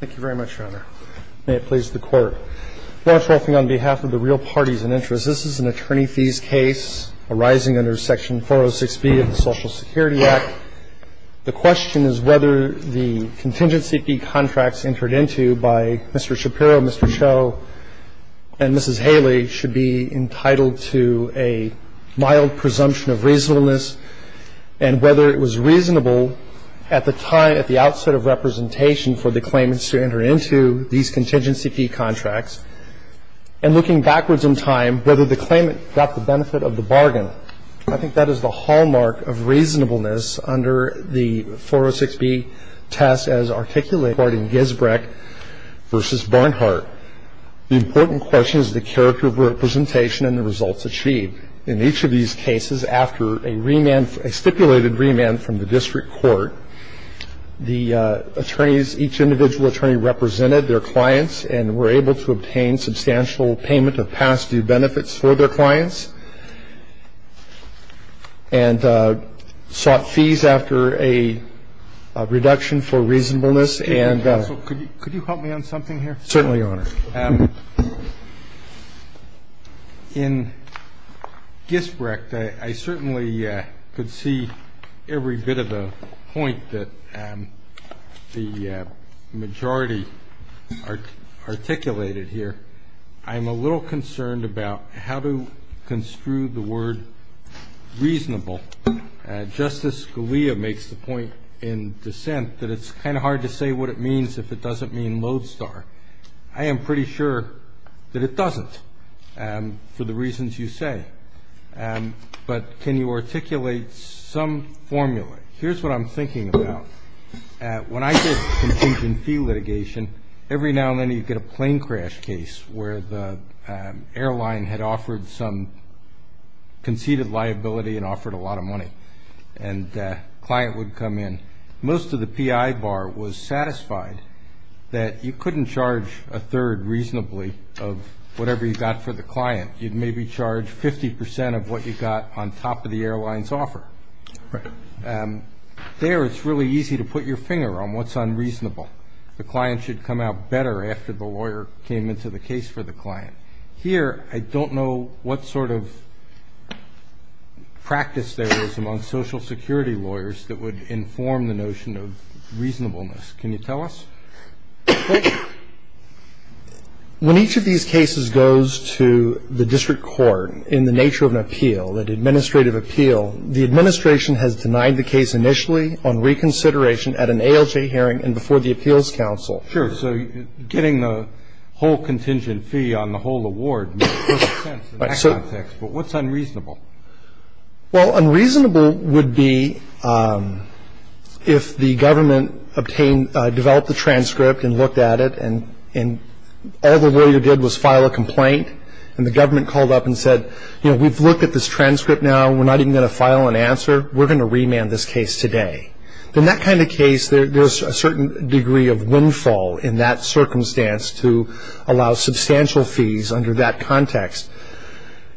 Thank you very much, Your Honor. May it please the Court. Law Enforcing on behalf of the Real Parties and Interests, this is an attorney fees case arising under Section 406B of the Social Security Act. The question is whether the contingency fee contracts entered into by Mr. Shapiro, Mr. Cho, and Mrs. Haley should be entitled to a mild presumption of reasonableness and whether it was reasonable at the time, at the outset of representation for the claimants to enter into these contingency fee contracts and looking backwards in time whether the claimant got the benefit of the bargain. I think that is the hallmark of reasonableness under the 406B test as articulated in Gisbrecht v. Barnhart. The important question is the character of representation and the results achieved. In each of these cases, after a remand, a stipulated remand from the district court, the attorneys, each individual attorney represented their clients and were able to obtain substantial payment of past due benefits for their clients and sought fees after a reduction for reasonableness and that. Could you help me on something here? Certainly, Your Honor. In Gisbrecht, I certainly could see every bit of the point that the majority articulated here. I'm a little concerned about how to construe the word reasonable. Justice Scalia makes the point in dissent that it's kind of hard to say what it means if it doesn't mean lodestar. I am pretty sure that it doesn't for the reasons you say. But can you articulate some formula? Here's what I'm thinking about. When I did contingency fee litigation, every now and then you'd get a plane crash case where the airline had offered some conceded liability and offered a lot of money, and a client would come in. Most of the PI bar was satisfied that you couldn't charge a third reasonably of whatever you got for the client. You'd maybe charge 50 percent of what you got on top of the airline's offer. There, it's really easy to put your finger on what's unreasonable. The client should come out better after the lawyer came into the case for the client. And here I don't know what sort of practice there is among Social Security lawyers that would inform the notion of reasonableness. Can you tell us? When each of these cases goes to the district court in the nature of an appeal, an administrative appeal, the administration has denied the case initially on reconsideration at an ALJ hearing and before the Appeals Council. Sure. So getting the whole contingent fee on the whole award makes perfect sense in that context. But what's unreasonable? Well, unreasonable would be if the government developed the transcript and looked at it and all the lawyer did was file a complaint and the government called up and said, you know, we've looked at this transcript now. We're not even going to file an answer. We're going to remand this case today. In that kind of case, there's a certain degree of windfall in that circumstance to allow substantial fees under that context.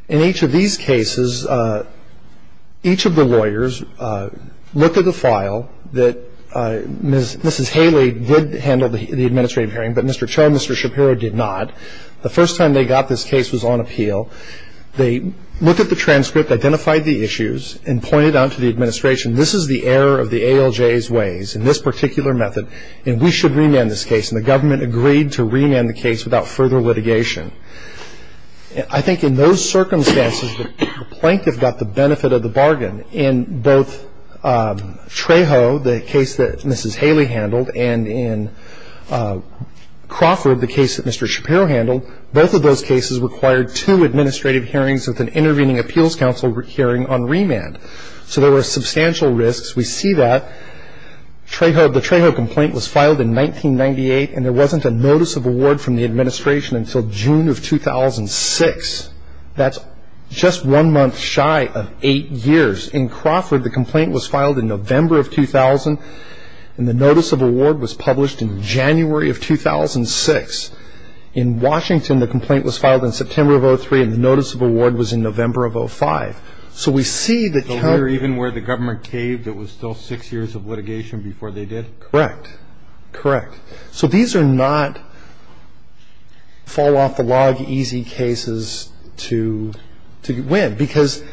In each of these cases, each of the lawyers looked at the file that Mrs. Haley did handle the administrative hearing, but Mr. Cho and Mr. Shapiro did not. The first time they got this case was on appeal. They looked at the transcript, identified the issues, and pointed out to the administration, this is the error of the ALJ's ways in this particular method, and we should remand this case. And the government agreed to remand the case without further litigation. I think in those circumstances, the plaintiff got the benefit of the bargain. In both Trejo, the case that Mrs. Haley handled, and in Crawford, the case that Mr. Shapiro handled, both of those cases required two administrative hearings with an intervening Appeals Council hearing on remand. So there were substantial risks. We see that. The Trejo complaint was filed in 1998, and there wasn't a notice of award from the administration until June of 2006. That's just one month shy of eight years. In Crawford, the complaint was filed in November of 2000, and the notice of award was published in January of 2006. In Washington, the complaint was filed in September of 2003, and the notice of award was in November of 2005. So we see the count. So here, even where the government caved, it was still six years of litigation before they did? Correct. Correct. So these are not fall-off-the-log, easy cases to win, because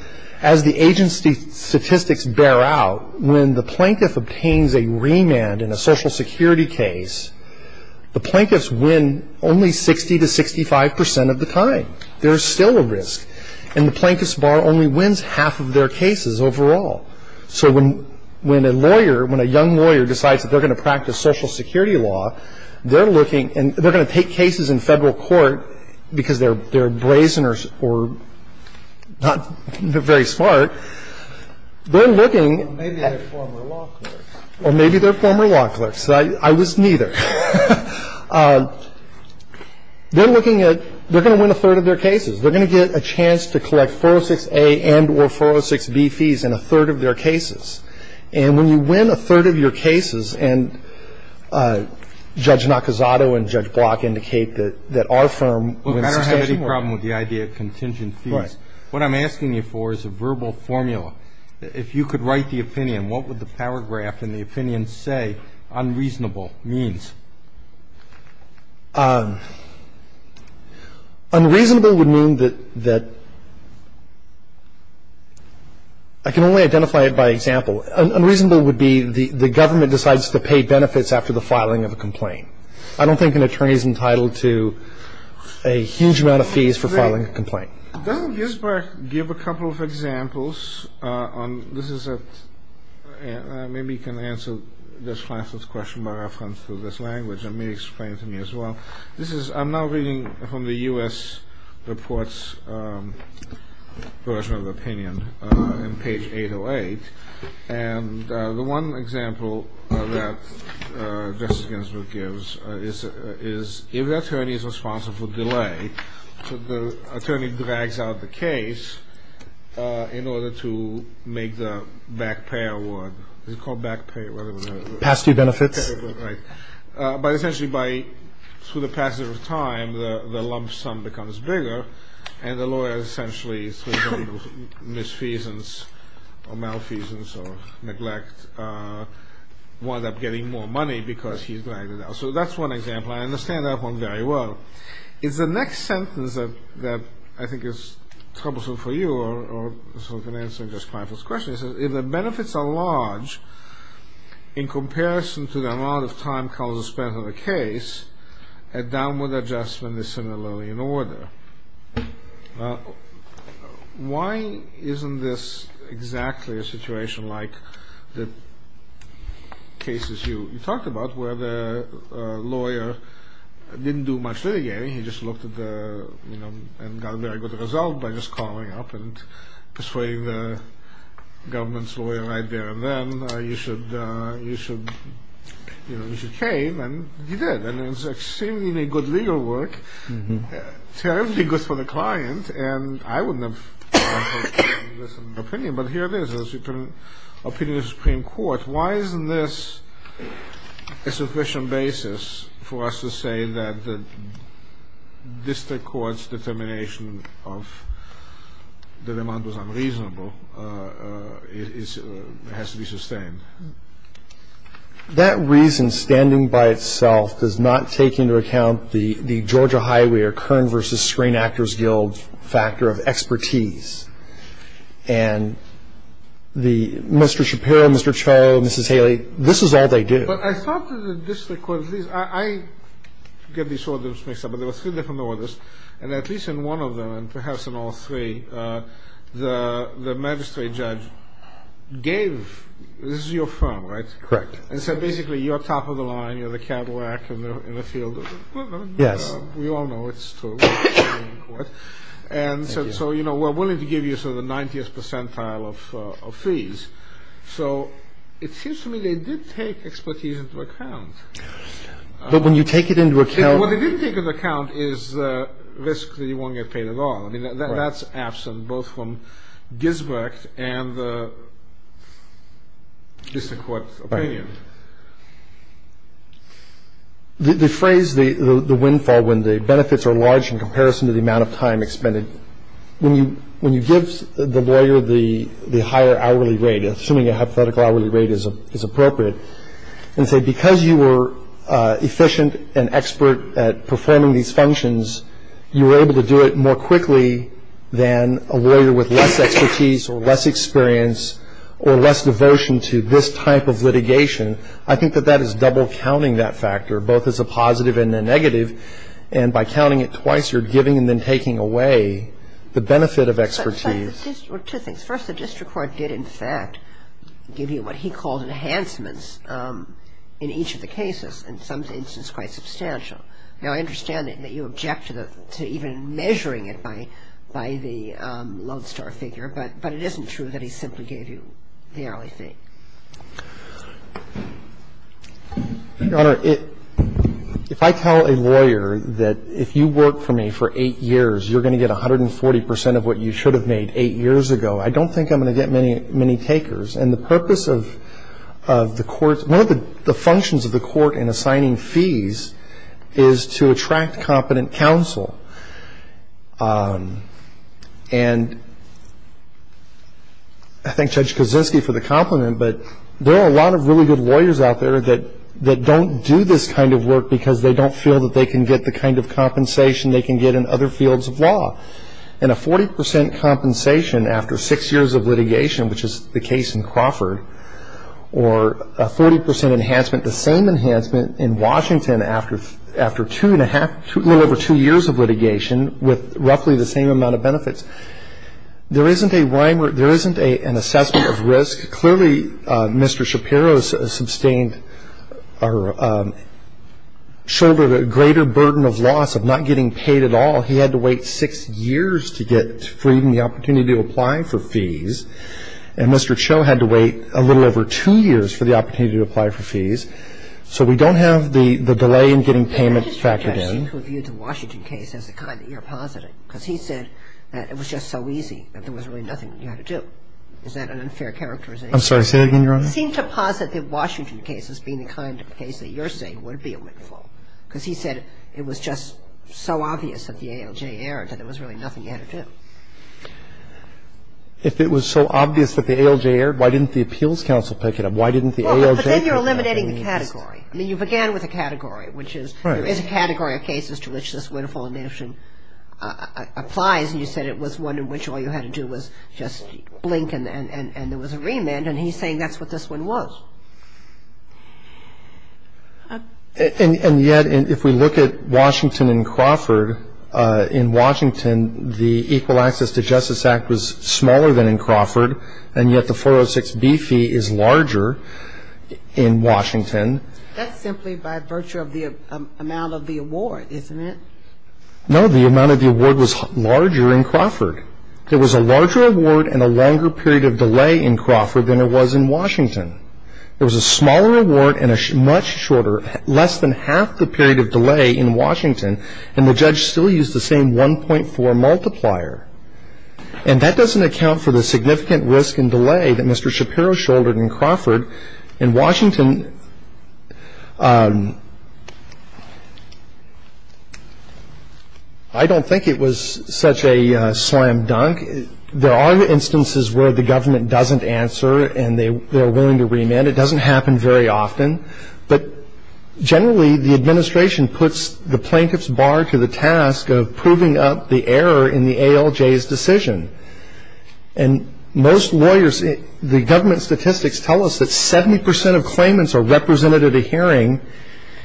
as the agency statistics bear out, when the plaintiff obtains a remand in a Social Security case, the plaintiffs win only 60 to 65 percent of the time. There is still a risk. And the plaintiff's bar only wins half of their cases overall. So when a lawyer, when a young lawyer decides that they're going to practice Social Security law, they're looking and they're going to take cases in federal court because they're brazen or not very smart, they're looking. Or maybe they're former law clerks. Or maybe they're former law clerks. I was neither. They're looking at they're going to win a third of their cases. They're going to get a chance to collect 406A and or 406B fees in a third of their cases. And when you win a third of your cases, and Judge Nakazato and Judge Block indicate that our firm wins 60 to 65. I don't have any problem with the idea of contingent fees. Right. What I'm asking you for is a verbal formula. If you could write the opinion, what would the paragraph in the opinion say unreasonable means? Unreasonable would mean that I can only identify it by example. Unreasonable would be the government decides to pay benefits after the filing of a complaint. I don't think an attorney is entitled to a huge amount of fees for filing a complaint. Doesn't Ginsberg give a couple of examples? Maybe you can answer this question by reference to this language and maybe explain it to me as well. I'm now reading from the U.S. report's version of opinion on page 808. And the one example that Justice Ginsberg gives is if the attorney is responsible for delay, the attorney drags out the case in order to make the back pay award. Is it called back pay? Past due benefits. Right. But essentially through the passage of time, the lump sum becomes bigger, and the lawyer essentially, through misfeasance or malfeasance or neglect, winds up getting more money because he's dragging it out. So that's one example. I understand that one very well. It's the next sentence that I think is troublesome for you, or so I can answer in response to this question. It says, if the benefits are large in comparison to the amount of time a downward adjustment is similarly in order. Why isn't this exactly a situation like the cases you talked about where the lawyer didn't do much litigating, he just looked at the, you know, and got a very good result by just calling up and persuading the government's lawyer right there and then, you know, you should pay him, and he did. And it's extremely good legal work, terribly good for the client, and I wouldn't have opposed this opinion. But here it is. It's an opinion of the Supreme Court. Why isn't this a sufficient basis for us to say that the district court's determination of the demand was unreasonable has to be sustained? That reason standing by itself does not take into account the Georgia Highway or Kern versus Screen Actors Guild factor of expertise. And Mr. Shapiro, Mr. Cho, Mrs. Haley, this is all they do. But I thought that the district court, at least, I get these orders mixed up, but there were three different orders, and at least in one of them, and perhaps in all three, the magistrate judge gave, this is your firm, right? Correct. And said, basically, you're top of the line, you're the Cadillac in the field. Yes. We all know it's true. And so, you know, we're willing to give you sort of the 90th percentile of fees. So it seems to me they did take expertise into account. But when you take it into account. What they didn't take into account is the risk that you won't get paid at all. I mean, that's absent both from Gisbert and the district court's opinion. The phrase, the windfall, when the benefits are large in comparison to the amount of time expended, when you give the lawyer the higher hourly rate, assuming a hypothetical hourly rate is appropriate, and say, because you were efficient and expert at performing these functions, you were able to do it more quickly than a lawyer with less expertise or less experience or less devotion to this type of litigation, I think that that is double-counting that factor, both as a positive and a negative. And by counting it twice, you're giving and then taking away the benefit of expertise. But there was a number of other factors that were involved, and that was the increase in the fee. But there were two things. First, the district court did, in fact, give you what he called enhancements in each of the cases, in some instances quite substantial. Now, I understand that you object to even measuring it by the lodestar figure, but it isn't true that he simply gave you the hourly fee. Your Honor, if I tell a lawyer that if you work for me for eight years, you're going to get 140 percent of what you should have made eight years ago, I don't think I'm going to get many takers. And the purpose of the courts one of the functions of the court in assigning fees is to attract competent counsel. And I thank Judge Kozinski for the compliment, but there are a lot of really good lawyers out there that don't do this kind of work because they don't feel that they can get the kind of compensation they can get in other fields of law. And a 40 percent compensation after six years of litigation, which is the case in Crawford, or a 40 percent enhancement, the same enhancement in Washington after two and a half, a little over two years of litigation with roughly the same amount of benefits. There isn't an assessment of risk. Clearly, Mr. Shapiro sustained or shouldered a greater burden of loss of not getting paid at all. He had to wait six years to get freed and the opportunity to apply for fees. And Mr. Cho had to wait a little over two years for the opportunity to apply for fees. So we don't have the delay in getting payment factored in. Kagan. The district judge seemed to view the Washington case as the kind that you're positing because he said that it was just so easy, that there was really nothing you had to do. Is that an unfair characterization? I'm sorry. Say that again, Your Honor. He seemed to posit the Washington case as being the kind of case that you're saying would be a win for him because he said it was just so obvious of the ALJ error that there was really nothing you had to do. If it was so obvious that the ALJ error, why didn't the appeals counsel pick it up? Why didn't the ALJ pick it up? Well, but then you're eliminating the category. I mean, you began with a category, which is there is a category of cases to which this win-or-fall notion applies. And you said it was one in which all you had to do was just blink and there was a remand. And he's saying that's what this one was. And yet, if we look at Washington and Crawford, in Washington, the Equal Access to Justice Act was smaller than in Crawford, and yet the 406B fee is larger in Washington. That's simply by virtue of the amount of the award, isn't it? No, the amount of the award was larger in Crawford. There was a larger award and a longer period of delay in Crawford than there was in Washington. There was a smaller award and a much shorter, less than half the period of delay in Washington, and the judge still used the same 1.4 multiplier. And that doesn't account for the significant risk and delay that Mr. Shapiro shouldered in Crawford. In Washington, I don't think it was such a slam dunk. I think there are instances where the government doesn't answer and they're willing to remand. It doesn't happen very often. But generally, the administration puts the plaintiff's bar to the task of proving up the error in the ALJ's decision. And most lawyers, the government statistics tell us that 70 percent of claimants are represented at a hearing,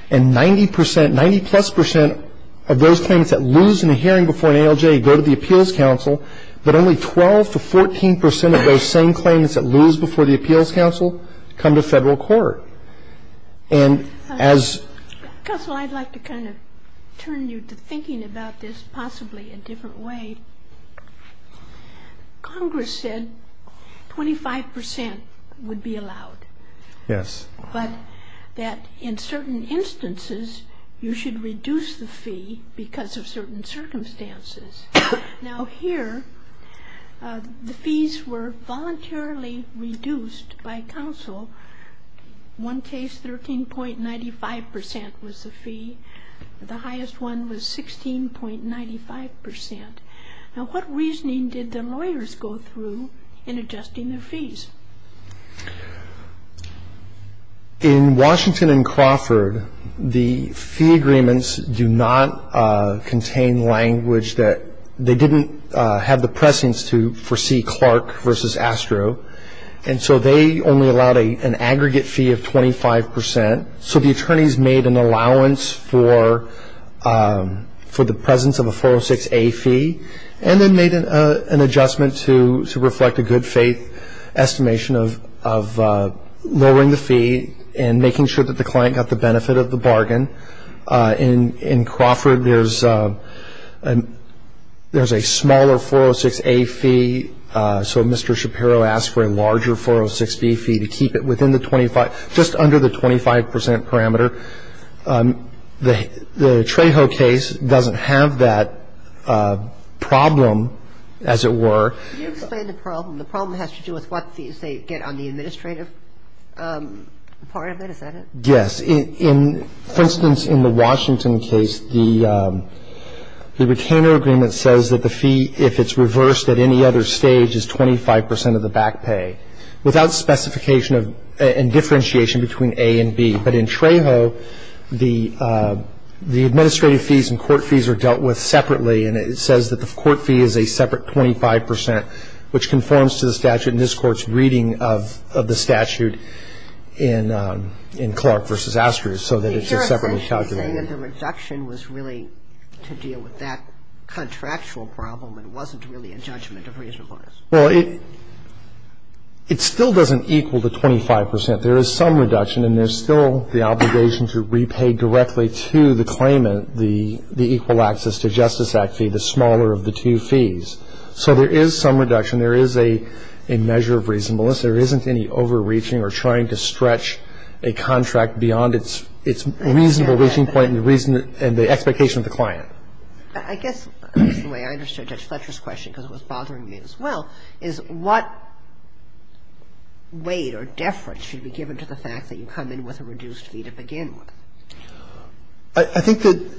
and 90 percent, 90-plus percent of those claimants that lose in a hearing before an ALJ go to the appeals council, but only 12 to 14 percent of those same claimants that lose before the appeals council come to federal court. And as ‑‑ Counsel, I'd like to kind of turn you to thinking about this possibly a different way. Congress said 25 percent would be allowed. Yes. But that in certain instances, you should reduce the fee because of certain circumstances. Now, here, the fees were voluntarily reduced by counsel. One case, 13.95 percent was the fee. The highest one was 16.95 percent. Now, what reasoning did the lawyers go through in adjusting their fees? In Washington and Crawford, the fee agreements do not contain language that ‑‑ they didn't have the presence to foresee Clark versus Astro, and so they only allowed an aggregate fee of 25 percent. So the attorneys made an allowance for the presence of a 406A fee and then made an adjustment to reflect a good faith estimation of lowering the fee and making sure that the client got the benefit of the bargain. In Crawford, there's a smaller 406A fee, so Mr. Shapiro asked for a larger 406B fee to keep it within the 25 ‑‑ just under the 25 percent parameter. The Trejo case doesn't have that problem, as it were. Can you explain the problem? The problem has to do with what fees they get on the administrative part of it, is that it? Yes. For instance, in the Washington case, the retainer agreement says that the fee, if it's reversed at any other stage, is 25 percent of the back pay, without specification and differentiation between A and B. But in Trejo, the administrative fees and court fees are dealt with separately, and it says that the court fee is a separate 25 percent, which conforms to the statute in this Court's reading of the statute in Clark versus Astro, so that it's a separate calculation. I'm saying that the reduction was really to deal with that contractual problem and wasn't really a judgment of reasonableness. Well, it still doesn't equal the 25 percent. There is some reduction, and there's still the obligation to repay directly to the claimant the equal access to Justice Act fee, the smaller of the two fees. So there is some reduction. There is a measure of reasonableness. There isn't any overreaching or trying to stretch a contract beyond its reasonable reaching point and the expectation of the client. I guess the way I understood Judge Fletcher's question, because it was bothering me as well, is what weight or deference should be given to the fact that you come in with a reduced fee to begin with? I think that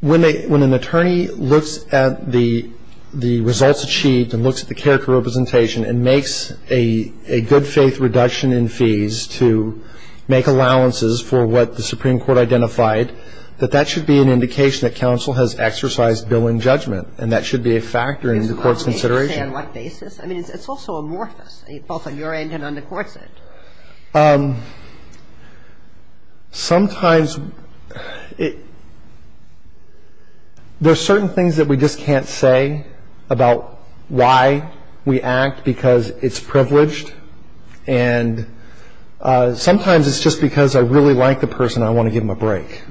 when an attorney looks at the results achieved and looks at the character representation and makes a good-faith reduction in fees to make allowances for what the Supreme Court identified, that that should be an indication that counsel has exercised billing judgment. And that should be a factor in the court's consideration. It's a complicated thing on what basis. I mean, it's also amorphous, both on your end and on the Court's end. Sometimes there are certain things that we just can't say about why we act because it's privileged. And sometimes it's just because I really like the person and I want to give them a break.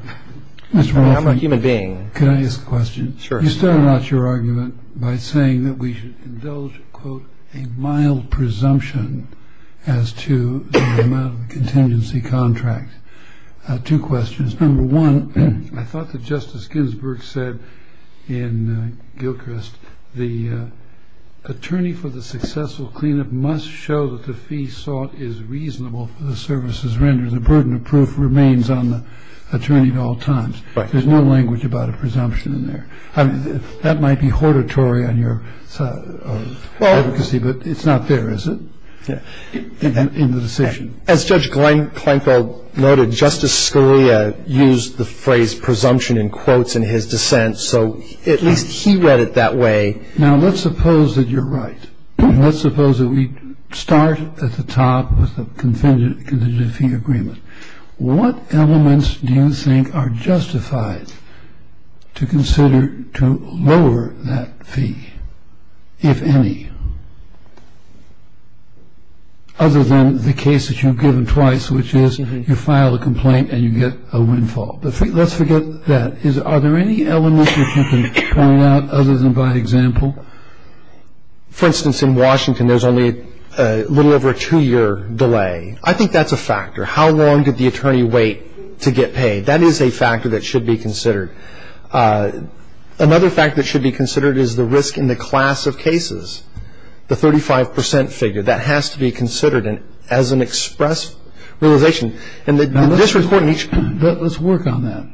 I'm a human being. Can I ask a question? Sure. You started out your argument by saying that we should indulge, quote, a mild presumption as to the amount of the contingency contract. I have two questions. Number one, I thought that Justice Ginsburg said in Gilchrist, the attorney for the successful cleanup must show that the fee sought is reasonable for the services rendered. The burden of proof remains on the attorney at all times. Right. There's no language about a presumption in there. I mean, that might be hortatory on your side of advocacy, but it's not there, is it, in the decision? As Judge Kleinfeld noted, Justice Scalia used the phrase Now, let's suppose that you're right. Let's suppose that we start at the top with the contingency agreement. What elements do you think are justified to consider to lower that fee, if any, other than the case that you've given twice, which is you file a complaint and you get a windfall? Let's forget that. Are there any elements that you can point out other than by example? For instance, in Washington, there's only a little over a two-year delay. I think that's a factor. How long did the attorney wait to get paid? That is a factor that should be considered. Another factor that should be considered is the risk in the class of cases, the 35 percent figure. That has to be considered as an express realization. Let's work on that.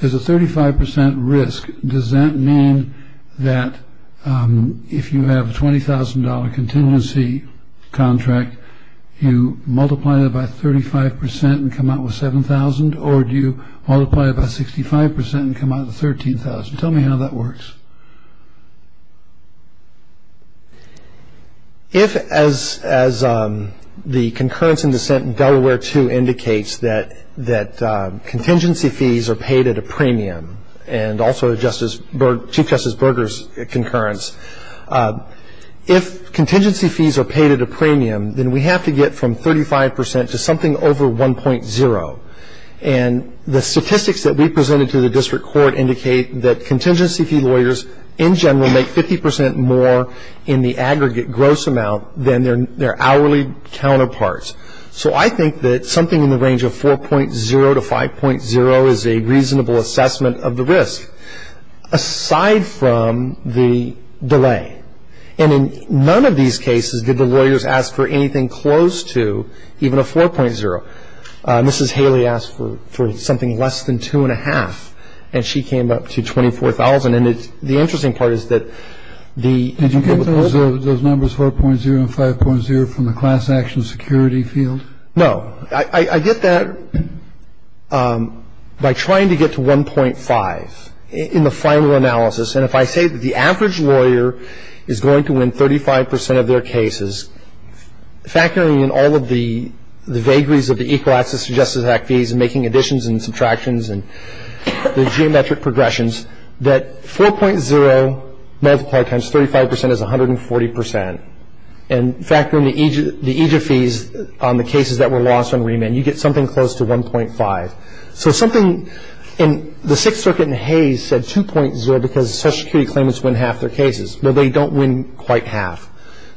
There's a 35 percent risk. Does that mean that if you have a $20,000 contingency contract, you multiply it by 35 percent and come out with $7,000, or do you multiply it by 65 percent and come out with $13,000? Tell me how that works. If, as the concurrence and dissent in Delaware II indicates, that contingency fees are paid at a premium, and also Chief Justice Berger's concurrence, if contingency fees are paid at a premium, then we have to get from 35 percent to something over 1.0. And the statistics that we presented to the district court indicate that contingency fee lawyers in general make 50 percent more in the aggregate gross amount than their hourly counterparts. So I think that something in the range of 4.0 to 5.0 is a reasonable assessment of the risk, aside from the delay. And in none of these cases did the lawyers ask for anything close to even a 4.0. Mrs. Haley asked for something less than 2.5, and she came up to $24,000. And the interesting part is that the ---- Did you get those numbers, 4.0 and 5.0, from the class action security field? No. I get that by trying to get to 1.5 in the final analysis. And if I say that the average lawyer is going to win 35 percent of their cases, factoring in all of the vagaries of the Equal Access to Justice Act fees, making additions and subtractions and the geometric progressions, that 4.0 multiplied times 35 percent is 140 percent. And factoring the EJF fees on the cases that were lost on remand, you get something close to 1.5. So something in the Sixth Circuit in Hays said 2.0 because Social Security claimants win half their cases. Well, they don't win quite half.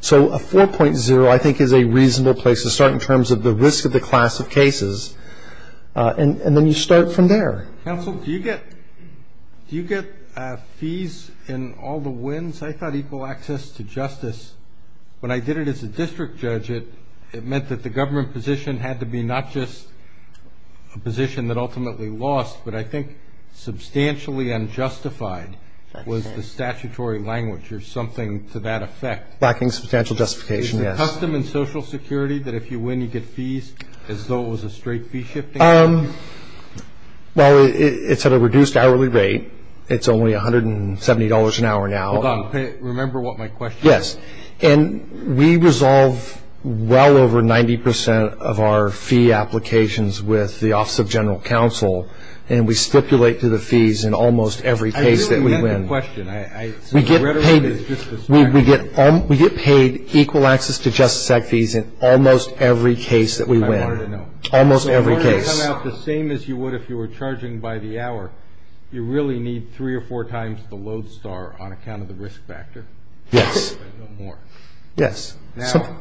So a 4.0, I think, is a reasonable place to start in terms of the risk of the class of cases, and then you start from there. Counsel, do you get fees in all the wins? I thought equal access to justice, when I did it as a district judge, it meant that the government position had to be not just a position that ultimately lost, but I think substantially unjustified was the statutory language or something to that effect. Lacking substantial justification, yes. Is it custom in Social Security that if you win, you get fees as though it was a straight fee shift? Well, it's at a reduced hourly rate. It's only $170 an hour now. Hold on. Remember what my question was? Yes. And we resolve well over 90 percent of our fee applications with the Office of General Counsel, and we stipulate to the fees in almost every case that we win. I didn't get the question. We get paid equal access to justice act fees in almost every case that we win. That's what I wanted to know. Almost every case. So in order to come out the same as you would if you were charging by the hour, you really need three or four times the load star on account of the risk factor. Yes. But no more. Yes. Now,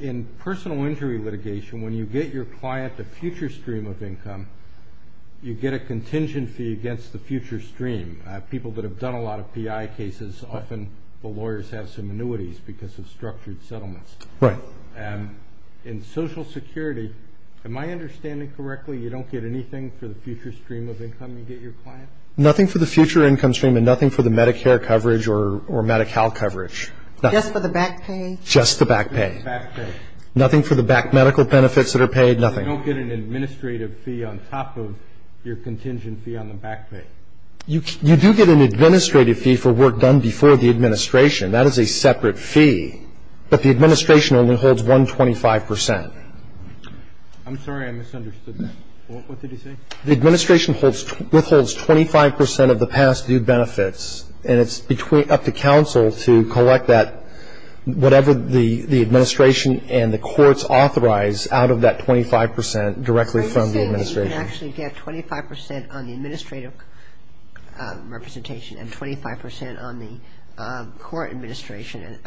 in personal injury litigation, when you get your client a future stream of income, you get a contingency against the future stream. People that have done a lot of PI cases, often the lawyers have some annuities because of structured settlements. Right. In Social Security, am I understanding correctly, you don't get anything for the future stream of income you get your client? Nothing for the future income stream and nothing for the Medicare coverage or Medi-Cal coverage. Just for the back pay? Just the back pay. Just the back pay. Nothing for the back medical benefits that are paid? Nothing. You don't get an administrative fee on top of your contingency on the back pay. You do get an administrative fee for work done before the administration. That is a separate fee, but the administration only holds 125 percent. I'm sorry. I misunderstood that. What did you say? The administration withholds 25 percent of the past due benefits, and it's up to counsel to collect that, whatever the administration and the courts authorize, out of that 25 percent directly from the administration. So you can actually get 25 percent on the administrative representation and 25 percent on the court administration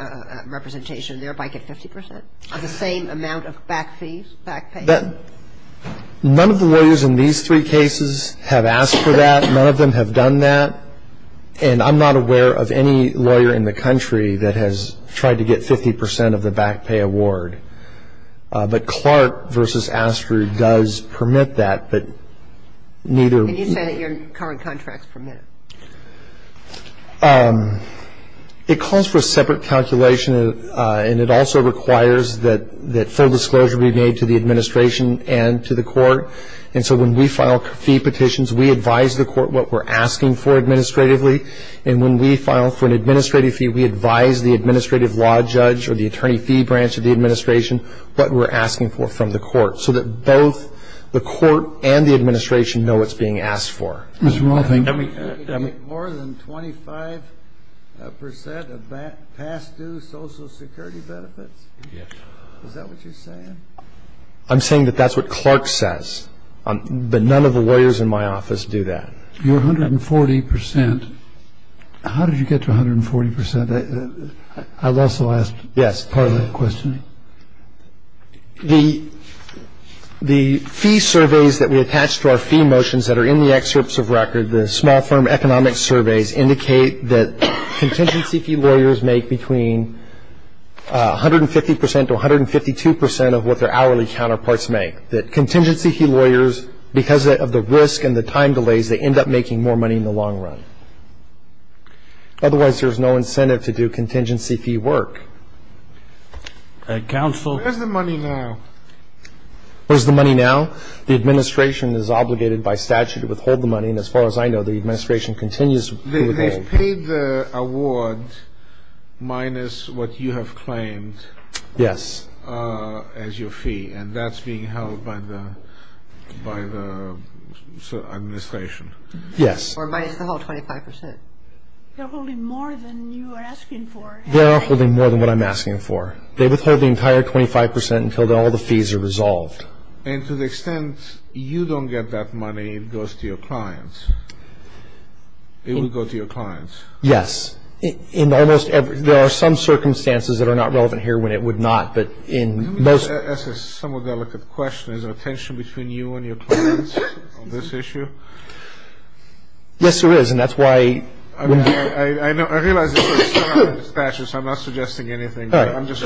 representation and thereby get 50 percent of the same amount of back fees, back pay? None of the lawyers in these three cases have asked for that. None of them have done that. And I'm not aware of any lawyer in the country that has tried to get 50 percent of the back pay award. But Clark v. Astor does permit that, but neither of them. Can you say that your current contracts permit it? It calls for a separate calculation, and it also requires that full disclosure be made to the administration and to the court. And so when we file fee petitions, we advise the court what we're asking for administratively. And when we file for an administrative fee, we advise the administrative law judge or the attorney fee branch of the administration what we're asking for from the court so that both the court and the administration know what's being asked for. Mr. Rothenberg. More than 25 percent of past due Social Security benefits? Yes. Is that what you're saying? I'm saying that that's what Clark says. But none of the lawyers in my office do that. Your 140 percent. How did you get to 140 percent? I've also asked part of that question. The fee surveys that we attach to our fee motions that are in the excerpts of record, the small firm economic surveys indicate that contingency fee lawyers make between 150 percent to 152 percent of what their hourly counterparts make, that contingency fee lawyers, because of the risk and the time delays, they end up making more money in the long run. Otherwise, there's no incentive to do contingency fee work. Counsel. Where's the money now? Where's the money now? The administration is obligated by statute to withhold the money. And as far as I know, the administration continues to withhold. They've paid the award minus what you have claimed. Yes. As your fee. And that's being held by the administration. Yes. Or minus the whole 25 percent. They're holding more than you are asking for. They are holding more than what I'm asking for. They withhold the entire 25 percent until all the fees are resolved. And to the extent you don't get that money, it goes to your clients. It will go to your clients. Yes. There are some circumstances that are not relevant here when it would not, but in most. Let me ask a somewhat delicate question. Is there a tension between you and your clients on this issue? Yes, there is. And that's why. I realize this is not under statutes. I'm not suggesting anything. I'm just.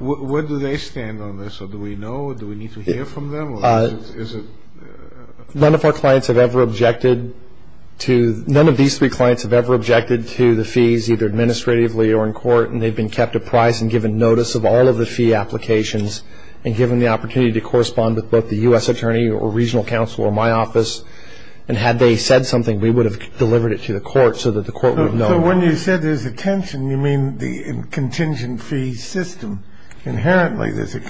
Where do they stand on this? Do we know? Do we need to hear from them? None of our clients have ever objected to. None of these three clients have ever objected to the fees, either administratively or in court. And they've been kept apprised and given notice of all of the fee applications and given the opportunity to correspond with both the U.S. attorney or regional counsel or my office. And had they said something, we would have delivered it to the court so that the court would know. So when you said there's a tension, you mean the contingent fee system. Inherently, there's a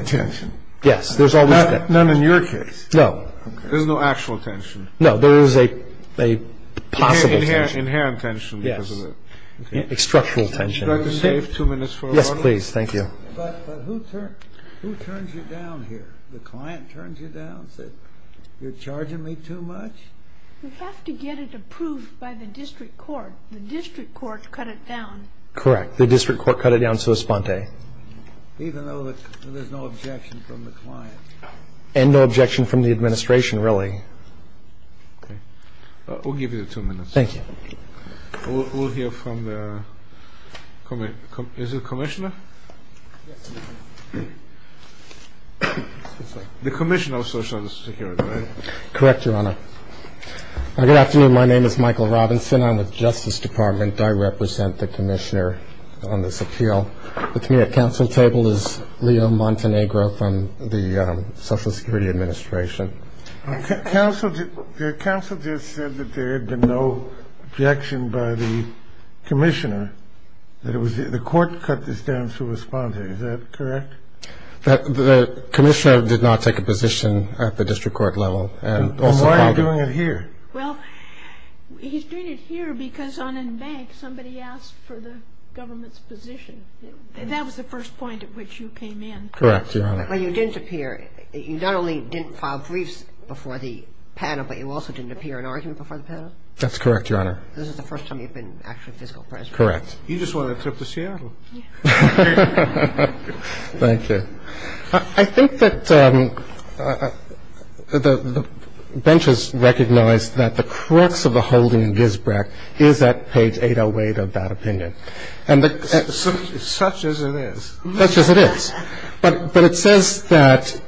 tension. Yes, there's always a tension. None in your case. No. There's no actual tension. No, there is a possible tension. Inherent tension. Yes. Structural tension. Would you like to save two minutes for order? Yes, please. Thank you. But who turns you down here? The client turns you down, says you're charging me too much? We have to get it approved by the district court. The district court cut it down. Correct. The district court cut it down so sponte. Even though there's no objection from the client? And no objection from the administration, really. Okay. We'll give you two minutes. Thank you. We'll hear from the commissioner. The commissioner of Social Security, right? Correct, Your Honor. Good afternoon. My name is Michael Robinson. I'm with Justice Department. I represent the commissioner on this appeal. With me at counsel's table is Leo Montenegro from the Social Security Administration. Counsel just said that there had been no objection by the commissioner, that the court cut this down so sponte. Is that correct? The commissioner did not take a position at the district court level. Then why are you doing it here? Well, he's doing it here because on a bank, somebody asked for the government's position. That was the first point at which you came in. Correct, Your Honor. But you didn't appear. You not only didn't file briefs before the panel, but you also didn't appear in an argument before the panel? That's correct, Your Honor. This is the first time you've been actually physical present. Correct. You just won a trip to Seattle. Thank you. I think that the bench has recognized that the crux of the holding in Gisbrecht is at page 808 of that opinion. Such as it is. Such as it is. But it says that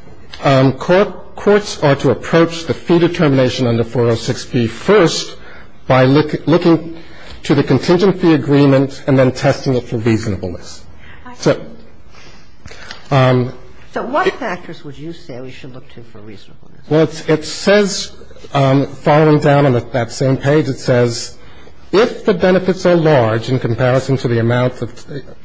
courts are to approach the fee determination under 406B first by looking to the contingent fee agreement and then testing it for reasonableness. So what factors would you say we should look to for reasonableness? Well, it says, following down on that same page, it says if the benefits are large in comparison to the amount of the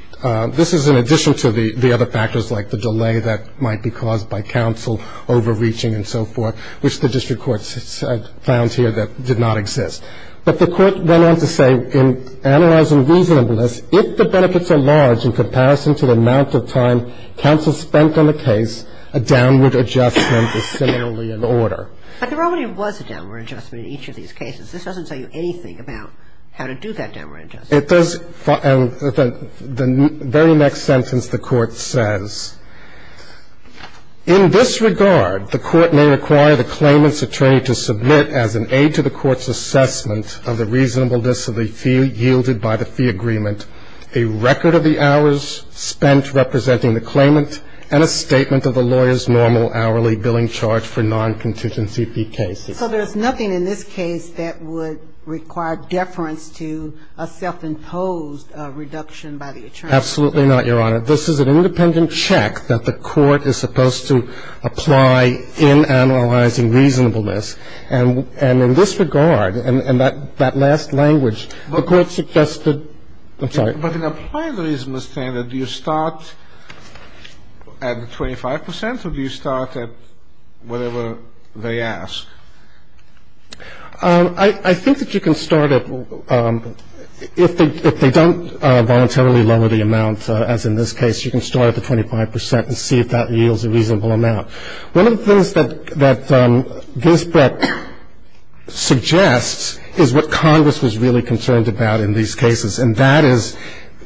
this is in addition to the other factors like the delay that might be caused by counsel overreaching and so forth, which the district court found here that did not exist. But the court went on to say in analyzing reasonableness, it says if the benefits are large in comparison to the amount of time counsel spent on the case, a downward adjustment is similarly in order. But there already was a downward adjustment in each of these cases. This doesn't tell you anything about how to do that downward adjustment. It does. The very next sentence the court says, in this regard, the court may require the claimant's attorney to submit as an aid to the court's assessment of the reasonableness of the fee yielded by the fee agreement a record of the hours spent representing the claimant and a statement of the lawyer's normal hourly billing charge for non-contingency fee cases. So there's nothing in this case that would require deference to a self-imposed reduction by the attorney? Absolutely not, Your Honor. This is an independent check that the court is supposed to apply in analyzing reasonableness. And in this regard, and that last language, the court suggested – I'm sorry. But in applying the reasonableness standard, do you start at 25 percent or do you start at whatever they ask? I think that you can start at – if they don't voluntarily lower the amount, as in this case, you can start at the 25 percent and see if that yields a reasonable amount. One of the things that Ginsburg suggests is what Congress was really concerned about in these cases, and that is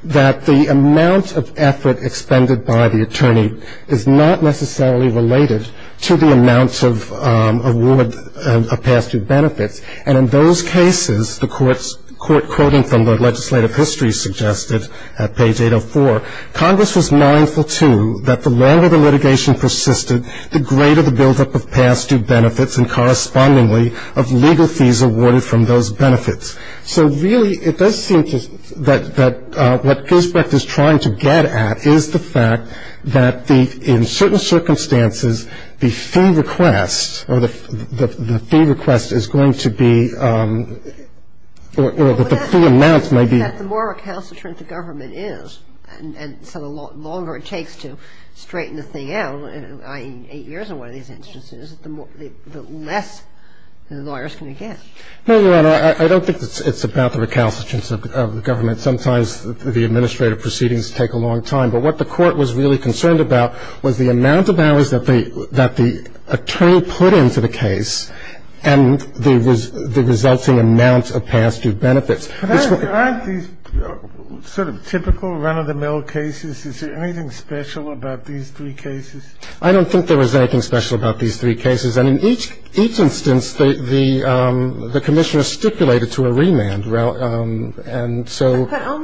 that the amount of effort expended by the attorney is not necessarily related to the amount of award of past due benefits. And in those cases, the court quoting from the legislative history suggested at page 804, Congress was mindful, too, that the longer the litigation persisted, the greater the buildup of past due benefits and correspondingly of legal fees awarded from those benefits. So really it does seem to – that what Gisbrecht is trying to get at is the fact that the – in certain circumstances, the fee request or the fee request is going to be – or that the fee amount may be – and so the longer it takes to straighten the thing out, i.e., 8 years in one of these instances, the less the lawyers can get. No, Your Honor. I don't think it's about the recalcitrance of government. Sometimes the administrative proceedings take a long time. But what the court was really concerned about was the amount of hours that the attorney put into the case and the resulting amount of past due benefits. And I don't think it's about the recalcitrance of government. put into the case and the resulting amount of past due benefits. But aren't these sort of typical run-of-the-mill cases? Is there anything special about these three cases? I don't think there was anything special about these three cases. And in each instance, the Commissioner stipulated to a remand, and so – And the reason I say that is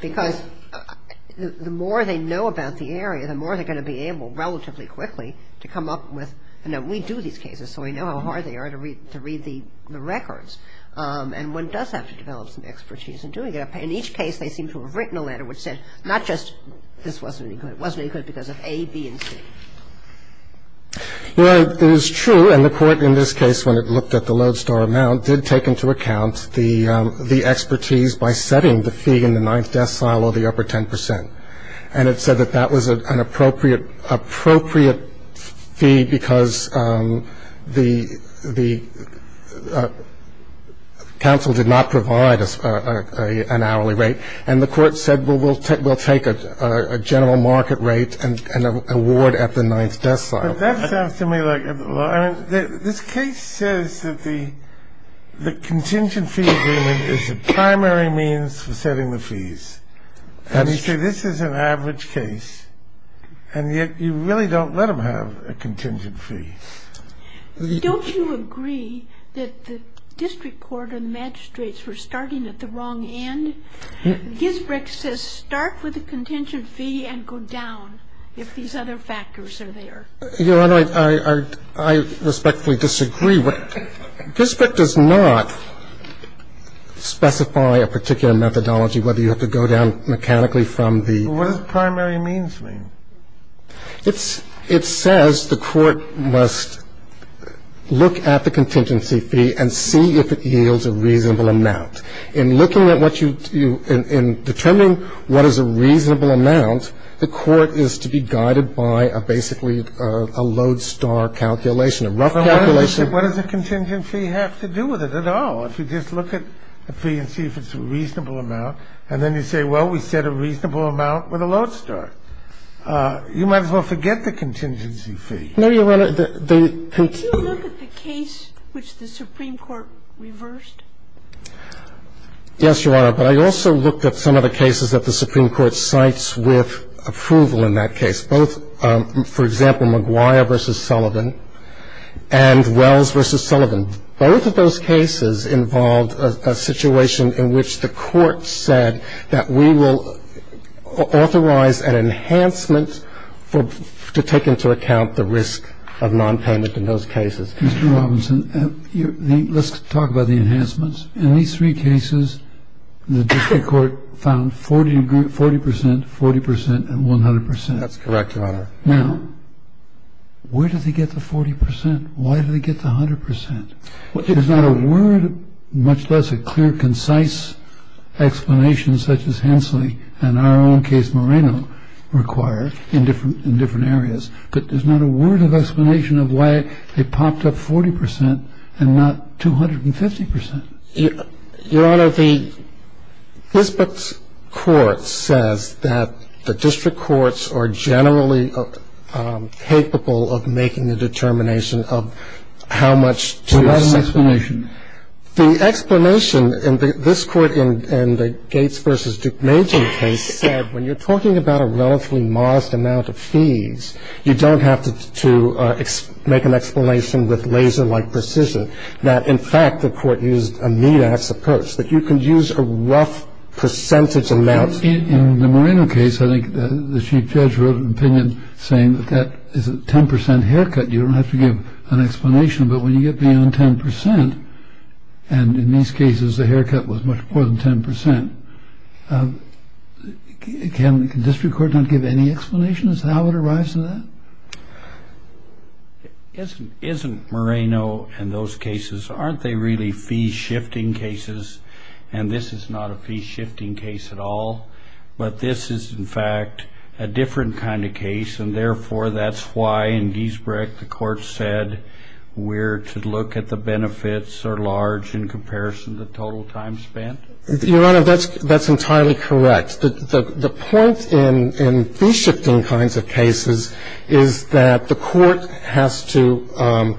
because the more they know about the area, the more they're going to be able relatively quickly to come up with – and we do these cases, so we know how hard they are to read the records. And one does have to develop some expertise in doing it. In each case, they seem to have written a letter which said not just, this wasn't any good. It wasn't any good because of A, B, and C. Your Honor, it is true, and the court in this case, when it looked at the lodestar amount, did take into account the expertise by setting the fee in the ninth decile or the upper 10%. And it said that that was an appropriate fee because the counsel did not provide an hourly rate. And the court said, well, we'll take a general market rate and award at the ninth decile. But that sounds to me like – this case says that the contingent fee agreement is the primary means for setting the fees. And you say this is an average case, and yet you really don't let them have a contingent fee. Don't you agree that the district court and magistrates were starting at the wrong end? Ginsburg says start with the contingent fee and go down if these other factors are there. Your Honor, I respectfully disagree. Gisbert does not specify a particular methodology whether you have to go down mechanically from the – What does primary means mean? It says the court must look at the contingency fee and see if it yields a reasonable amount. In looking at what you – in determining what is a reasonable amount, the court is to be guided by a basically a lodestar calculation, a rough calculation. What does a contingent fee have to do with it at all? If you just look at the fee and see if it's a reasonable amount, and then you say, well, we set a reasonable amount with a lodestar. You might as well forget the contingency fee. No, Your Honor. They continue – Did you look at the case which the Supreme Court reversed? Yes, Your Honor. But I also looked at some of the cases that the Supreme Court cites with approval in that case, both, for example, McGuire v. Sullivan and Wells v. Sullivan. Both of those cases involved a situation in which the court said that we will authorize an enhancement to take into account the risk of nonpayment in those cases. Mr. Robinson, let's talk about the enhancements. In these three cases, the district court found 40 percent, 40 percent, and 100 percent. That's correct, Your Honor. Now, where did they get the 40 percent? Why did they get the 100 percent? There's not a word, much less a clear, concise explanation such as Hensley and our own case, Moreno, require in different areas. But there's not a word of explanation of why they popped up 40 percent and not 250 percent. Your Honor, the – This court says that the district courts are generally capable of making a determination of how much to – Well, that's an explanation. The explanation in this court and the Gates v. Duke-Major case said when you're talking about a relatively modest amount of fees, you don't have to make an explanation with laser-like precision. Now, in fact, the court used a meat-ass approach, that you can use a rough percentage amount. In the Moreno case, I think the Chief Judge wrote an opinion saying that that is a 10 percent haircut. You don't have to give an explanation, but when you get beyond 10 percent, and in these cases the haircut was much more than 10 percent, can the district court not give any explanation as to how it arrives at that? Isn't Moreno and those cases – aren't they really fee-shifting cases? And this is not a fee-shifting case at all, but this is, in fact, a different kind of case. The court said we're to look at the benefits are large in comparison to the total time spent. Your Honor, that's entirely correct. The point in fee-shifting kinds of cases is that the court has to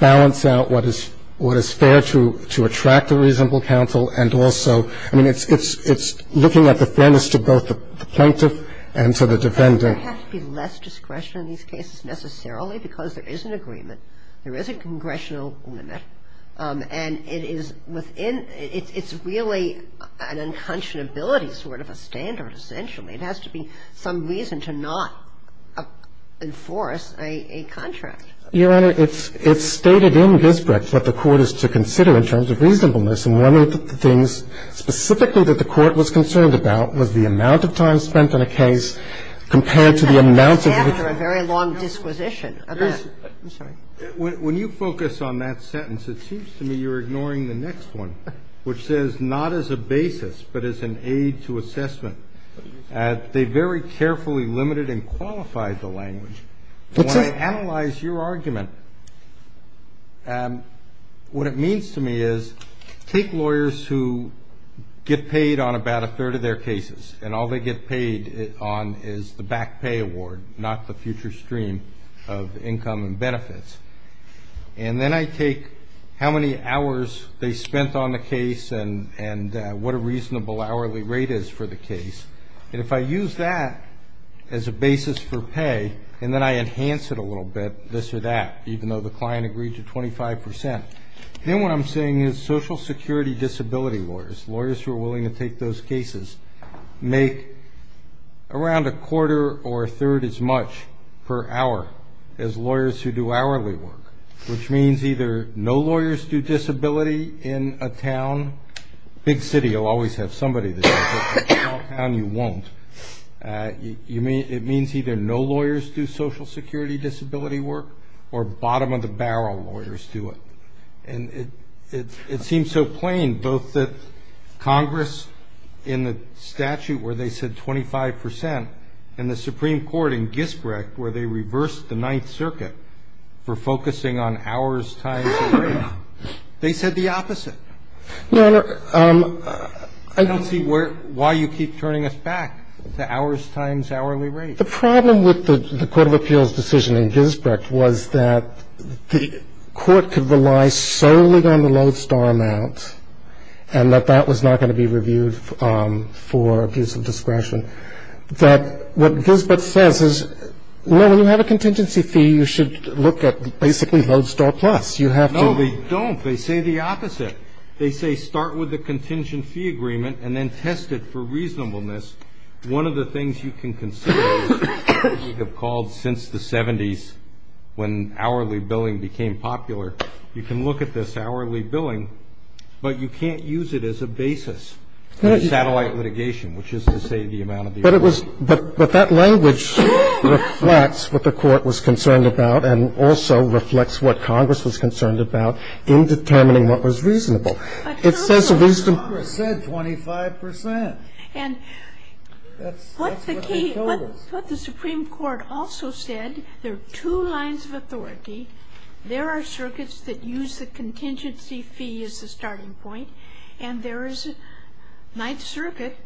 balance out what is fair to attract a reasonable counsel and also – I mean, it's looking at the fairness to both the plaintiff and to the defendant. Ginsburg. There has to be less discretion in these cases necessarily because there is an agreement, there is a congressional limit, and it is within – it's really an unconscionability sort of a standard, essentially. It has to be some reason to not enforce a contract. Your Honor, it's stated in Gisbret what the court is to consider in terms of reasonableness, and one of the things specifically that the court was concerned about was the amount of time spent on a case compared to the amount of the other cases. And that's after a very long disquisition. I'm sorry. When you focus on that sentence, it seems to me you're ignoring the next one, which says not as a basis but as an aid to assessment. They very carefully limited and qualified the language. What's that? I take lawyers who get paid on about a third of their cases, and all they get paid on is the back pay award, not the future stream of income and benefits. And then I take how many hours they spent on the case and what a reasonable hourly rate is for the case, and if I use that as a basis for pay, and then I enhance it a little bit, this or that, even though the client agreed to 25 percent, then what I'm saying is social security disability lawyers, lawyers who are willing to take those cases, make around a quarter or a third as much per hour as lawyers who do hourly work, which means either no lawyers do disability in a town. A big city will always have somebody that does it. In a small town, you won't. It means either no lawyers do social security disability work or bottom-of-the-barrel lawyers do it. And it seems so plain, both that Congress in the statute where they said 25 percent and the Supreme Court in Gisbrecht where they reversed the Ninth Circuit for focusing on hours times the rate, they said the opposite. I don't see why you keep turning us back to hours times hourly rate. The problem with the Court of Appeals' decision in Gisbrecht was that the court could rely solely on the Lodestar amount and that that was not going to be reviewed for abuse of discretion, that what Gisbrecht says is, no, when you have a contingency fee, you should look at basically Lodestar Plus. You have to ---- No, they don't. They say the opposite. They say start with the contingent fee agreement and then test it for reasonableness. One of the things you can consider, we have called since the 70s when hourly billing became popular, you can look at this hourly billing, but you can't use it as a basis for satellite litigation, which is to say the amount of the award. But it was ---- but that language reflects what the court was concerned about and also reflects what Congress was concerned about in determining what was reasonable. Absolutely. It says reasonable. Congress said 25 percent. And what the key ---- That's what they told us. What the Supreme Court also said, there are two lines of authority. There are circuits that use the contingency fee as a starting point, and there is a Ninth Circuit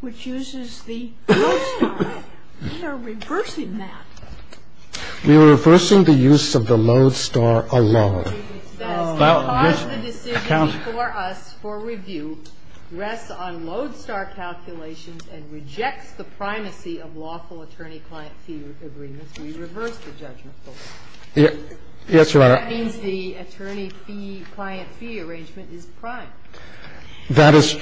which uses the Lodestar. We are reversing that. We are reversing the use of the Lodestar alone. The court says the decision for us for review rests on Lodestar calculations and rejects the primacy of lawful attorney-client fee agreements. We reverse the judgment. Yes, Your Honor. That means the attorney fee, client fee arrangement is prime. That is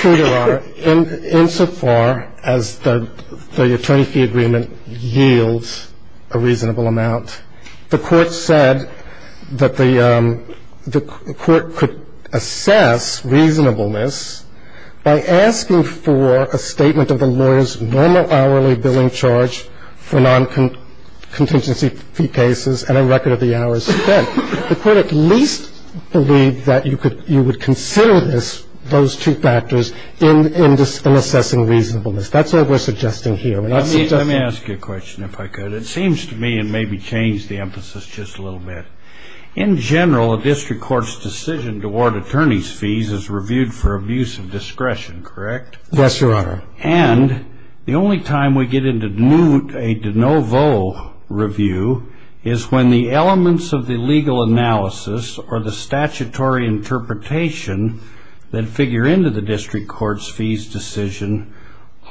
true, Your Honor. Insofar as the attorney fee agreement yields a reasonable amount, the court said that the court could assess reasonableness by asking for a statement of the lawyer's normal hourly billing charge for non-contingency fee cases and a record of the hours spent. The court at least believed that you could ---- you would consider this, those two factors, in assessing reasonableness. That's what we're suggesting here. Let me ask you a question, if I could. It seems to me, and maybe change the emphasis just a little bit. In general, a district court's decision to award attorney's fees is reviewed for abuse of discretion. Correct? Yes, Your Honor. And the only time we get into a de novo review is when the elements of the legal analysis or the statutory interpretation that figure into the district court's fees decision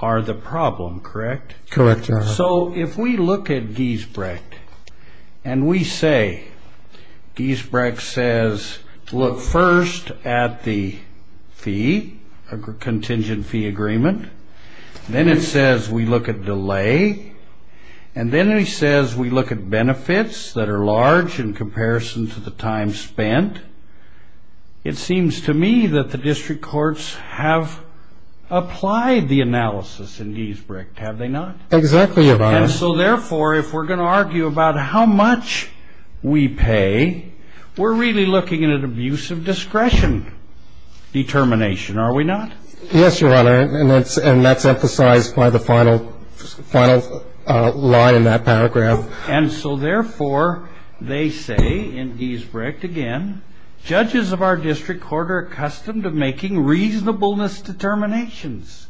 are the problem. Correct? Correct, Your Honor. So if we look at Giesbrecht and we say Giesbrecht says to look first at the fee, contingent fee agreement, then it says we look at delay, and then it says we look at benefits that are large in comparison to the time spent, it seems to me that the district courts have applied the analysis in Giesbrecht, have they not? Exactly, Your Honor. And so therefore, if we're going to argue about how much we pay, we're really looking at abuse of discretion determination, are we not? Yes, Your Honor. And that's emphasized by the final line in that paragraph. And so therefore, they say in Giesbrecht again, judges of our district court are accustomed to making reasonableness determinations,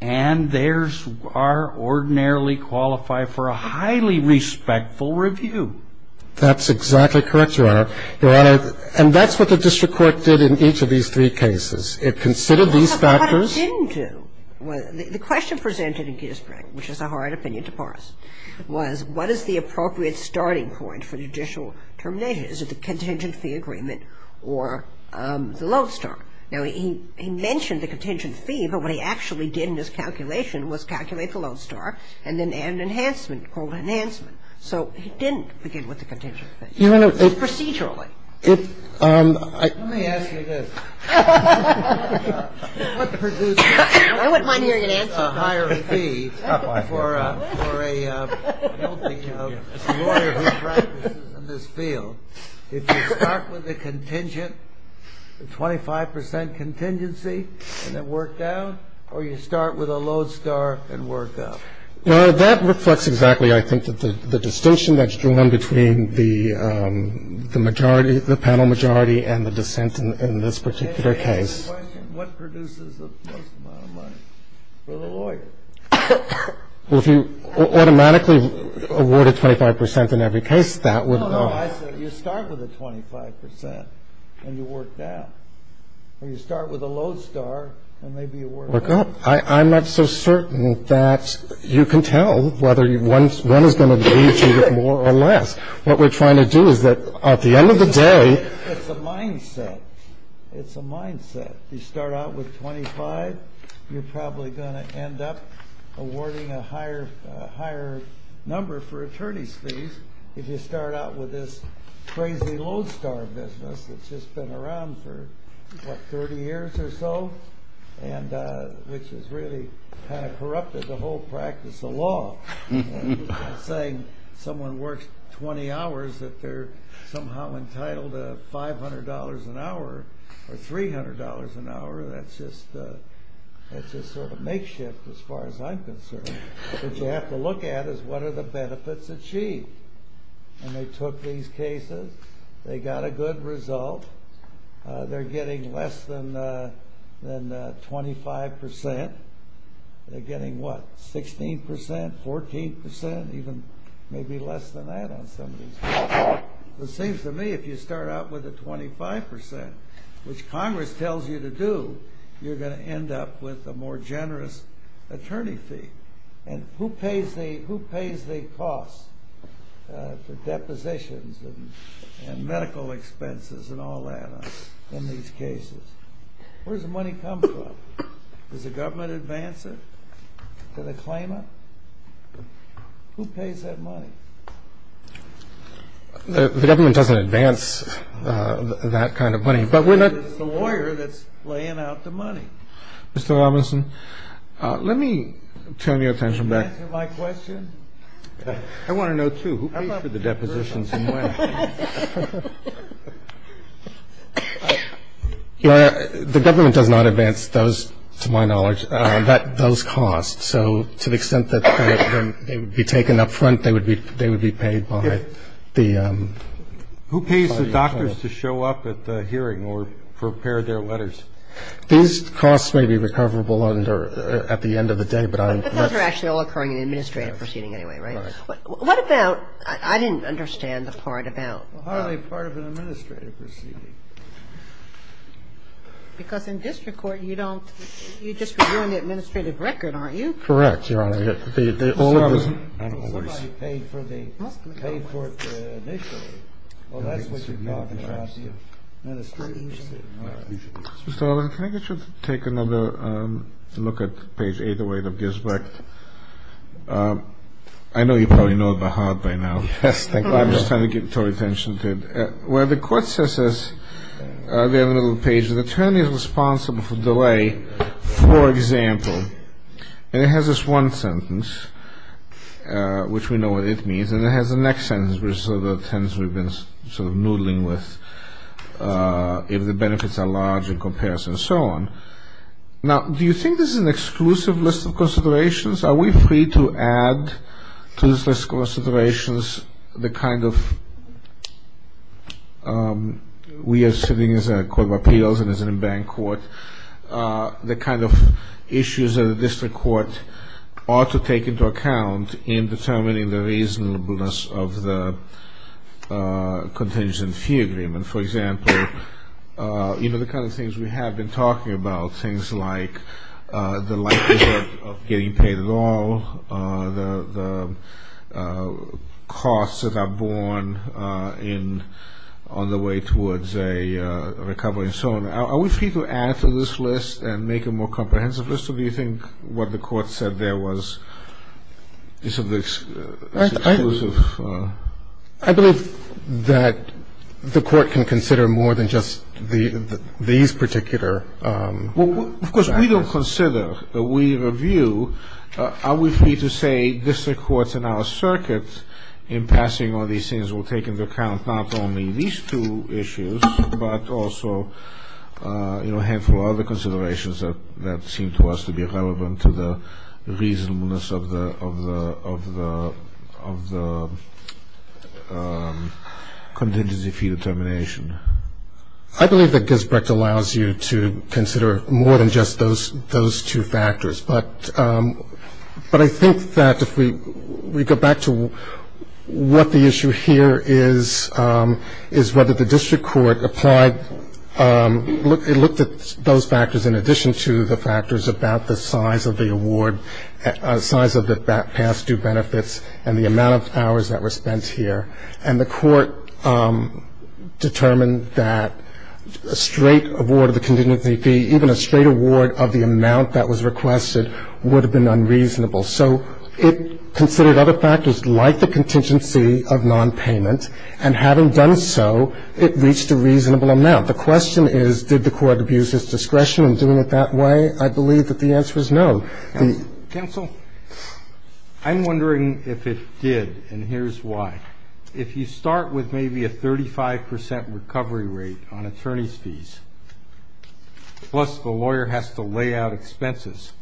and theirs are ordinarily qualified for a highly respectful review. That's exactly correct, Your Honor. Your Honor, and that's what the district court did in each of these three cases. It considered these factors. That's not what it didn't do. The question presented in Giesbrecht, which is a hard opinion to parse, was what is the appropriate starting point for judicial termination? Is it the contingent fee agreement or the loan start? Now, he mentioned the contingent fee, but what he actually did in his calculation was calculate the loan start and then add an enhancement called enhancement. So he didn't begin with the contingent fee procedurally. Let me ask you this. I wouldn't mind hearing an answer. It's a higher fee for a lawyer who practices in this field. If you start with the contingent, 25 percent contingency, and then work down, or you start with a loan start and work up? That reflects exactly, I think, the distinction that's drawn between the panel majority and the dissent in this particular case. What produces the most amount of money for the lawyer? Well, if you automatically award a 25 percent in every case, that would be. No, no, I said you start with a 25 percent and you work down. Or you start with a loan start and maybe you work up. I'm not so certain that you can tell whether one is going to pay you more or less. What we're trying to do is that at the end of the day. It's a mindset. It's a mindset. If you start out with 25, you're probably going to end up awarding a higher number for attorney's fees. If you start out with this crazy loan start business that's just been around for, what, 30 years or so? Which has really kind of corrupted the whole practice of law. I'm not saying someone works 20 hours that they're somehow entitled to $500 an hour or $300 an hour. That's just sort of makeshift as far as I'm concerned. What you have to look at is what are the benefits achieved? And they took these cases. They got a good result. They're getting less than 25 percent. They're getting, what, 16 percent, 14 percent, even maybe less than that on some of these cases. It seems to me if you start out with a 25 percent, which Congress tells you to do, you're going to end up with a more generous attorney fee. And who pays the costs for depositions and medical expenses and all that in these cases? Where does the money come from? Does the government advance it? Does it claim it? Who pays that money? The government doesn't advance that kind of money. It's the lawyer that's laying out the money. Mr. Robinson, let me turn your attention back. Can you answer my question? I want to know, too. Who pays for the depositions and when? The government does not advance those, to my knowledge, those costs. So to the extent that they would be taken up front, they would be paid by the attorney. Who pays the doctors to show up at the hearing or prepare their letters? These costs may be recoverable under at the end of the day, but I'm not sure. But those are actually all occurring in the administrative proceeding anyway, right? But what about – I didn't understand the part about – Well, how are they part of an administrative proceeding? Because in district court, you don't – you're just reviewing the administrative record, aren't you? Correct, Your Honor. Somebody paid for the – paid for it initially. Well, that's what you're talking about, the administrative proceeding. Mr. Robinson, can I get you to take another look at page 808 of Gisbeck? I know you probably know it by heart by now. Yes, thank you, Your Honor. I'm just trying to get your attention to it. Where the court says this, they have a little page, the attorney is responsible for delay, for example. And it has this one sentence, which we know what it means, and it has the next sentence, which is sort of the tense we've been sort of noodling with, if the benefits are large in comparison, and so on. Now, do you think this is an exclusive list of considerations? Are we free to add to this list of considerations the kind of – we are sitting as a court of appeals and as an in-bank court – the kind of issues that a district court ought to take into account in determining the reasonableness of the contingent fee agreement? And for example, you know, the kind of things we have been talking about, things like the likelihood of getting paid at all, the costs that are borne on the way towards a recovery, and so on. Are we free to add to this list and make a more comprehensive list, or do you think what the court said there is exclusive? I believe that the court can consider more than just these particular factors. Well, of course, we don't consider. We review. Are we free to say district courts in our circuit, in passing all these things, will take into account not only these two issues, but also, you know, a handful of other considerations that seem to us to be relevant to the reasonableness of the contingency fee determination. I believe that Gisbert allows you to consider more than just those two factors. But I think that if we go back to what the issue here is, is whether the district court applied – looked at those factors in addition to the factors about the size of the award – size of the past due benefits and the amount of hours that were spent here. And the court determined that a straight award of the contingency fee, even a straight award of the amount that was requested, would have been unreasonable. So it considered other factors like the contingency of nonpayment, and having done so, it reached a reasonable amount. The question is, did the court abuse its discretion in doing it that way? I believe that the answer is no. The — Roberts. Counsel, I'm wondering if it did, and here's why. If you start with maybe a 35 percent recovery rate on attorney's fees, plus the lawyer has to lay out expenses,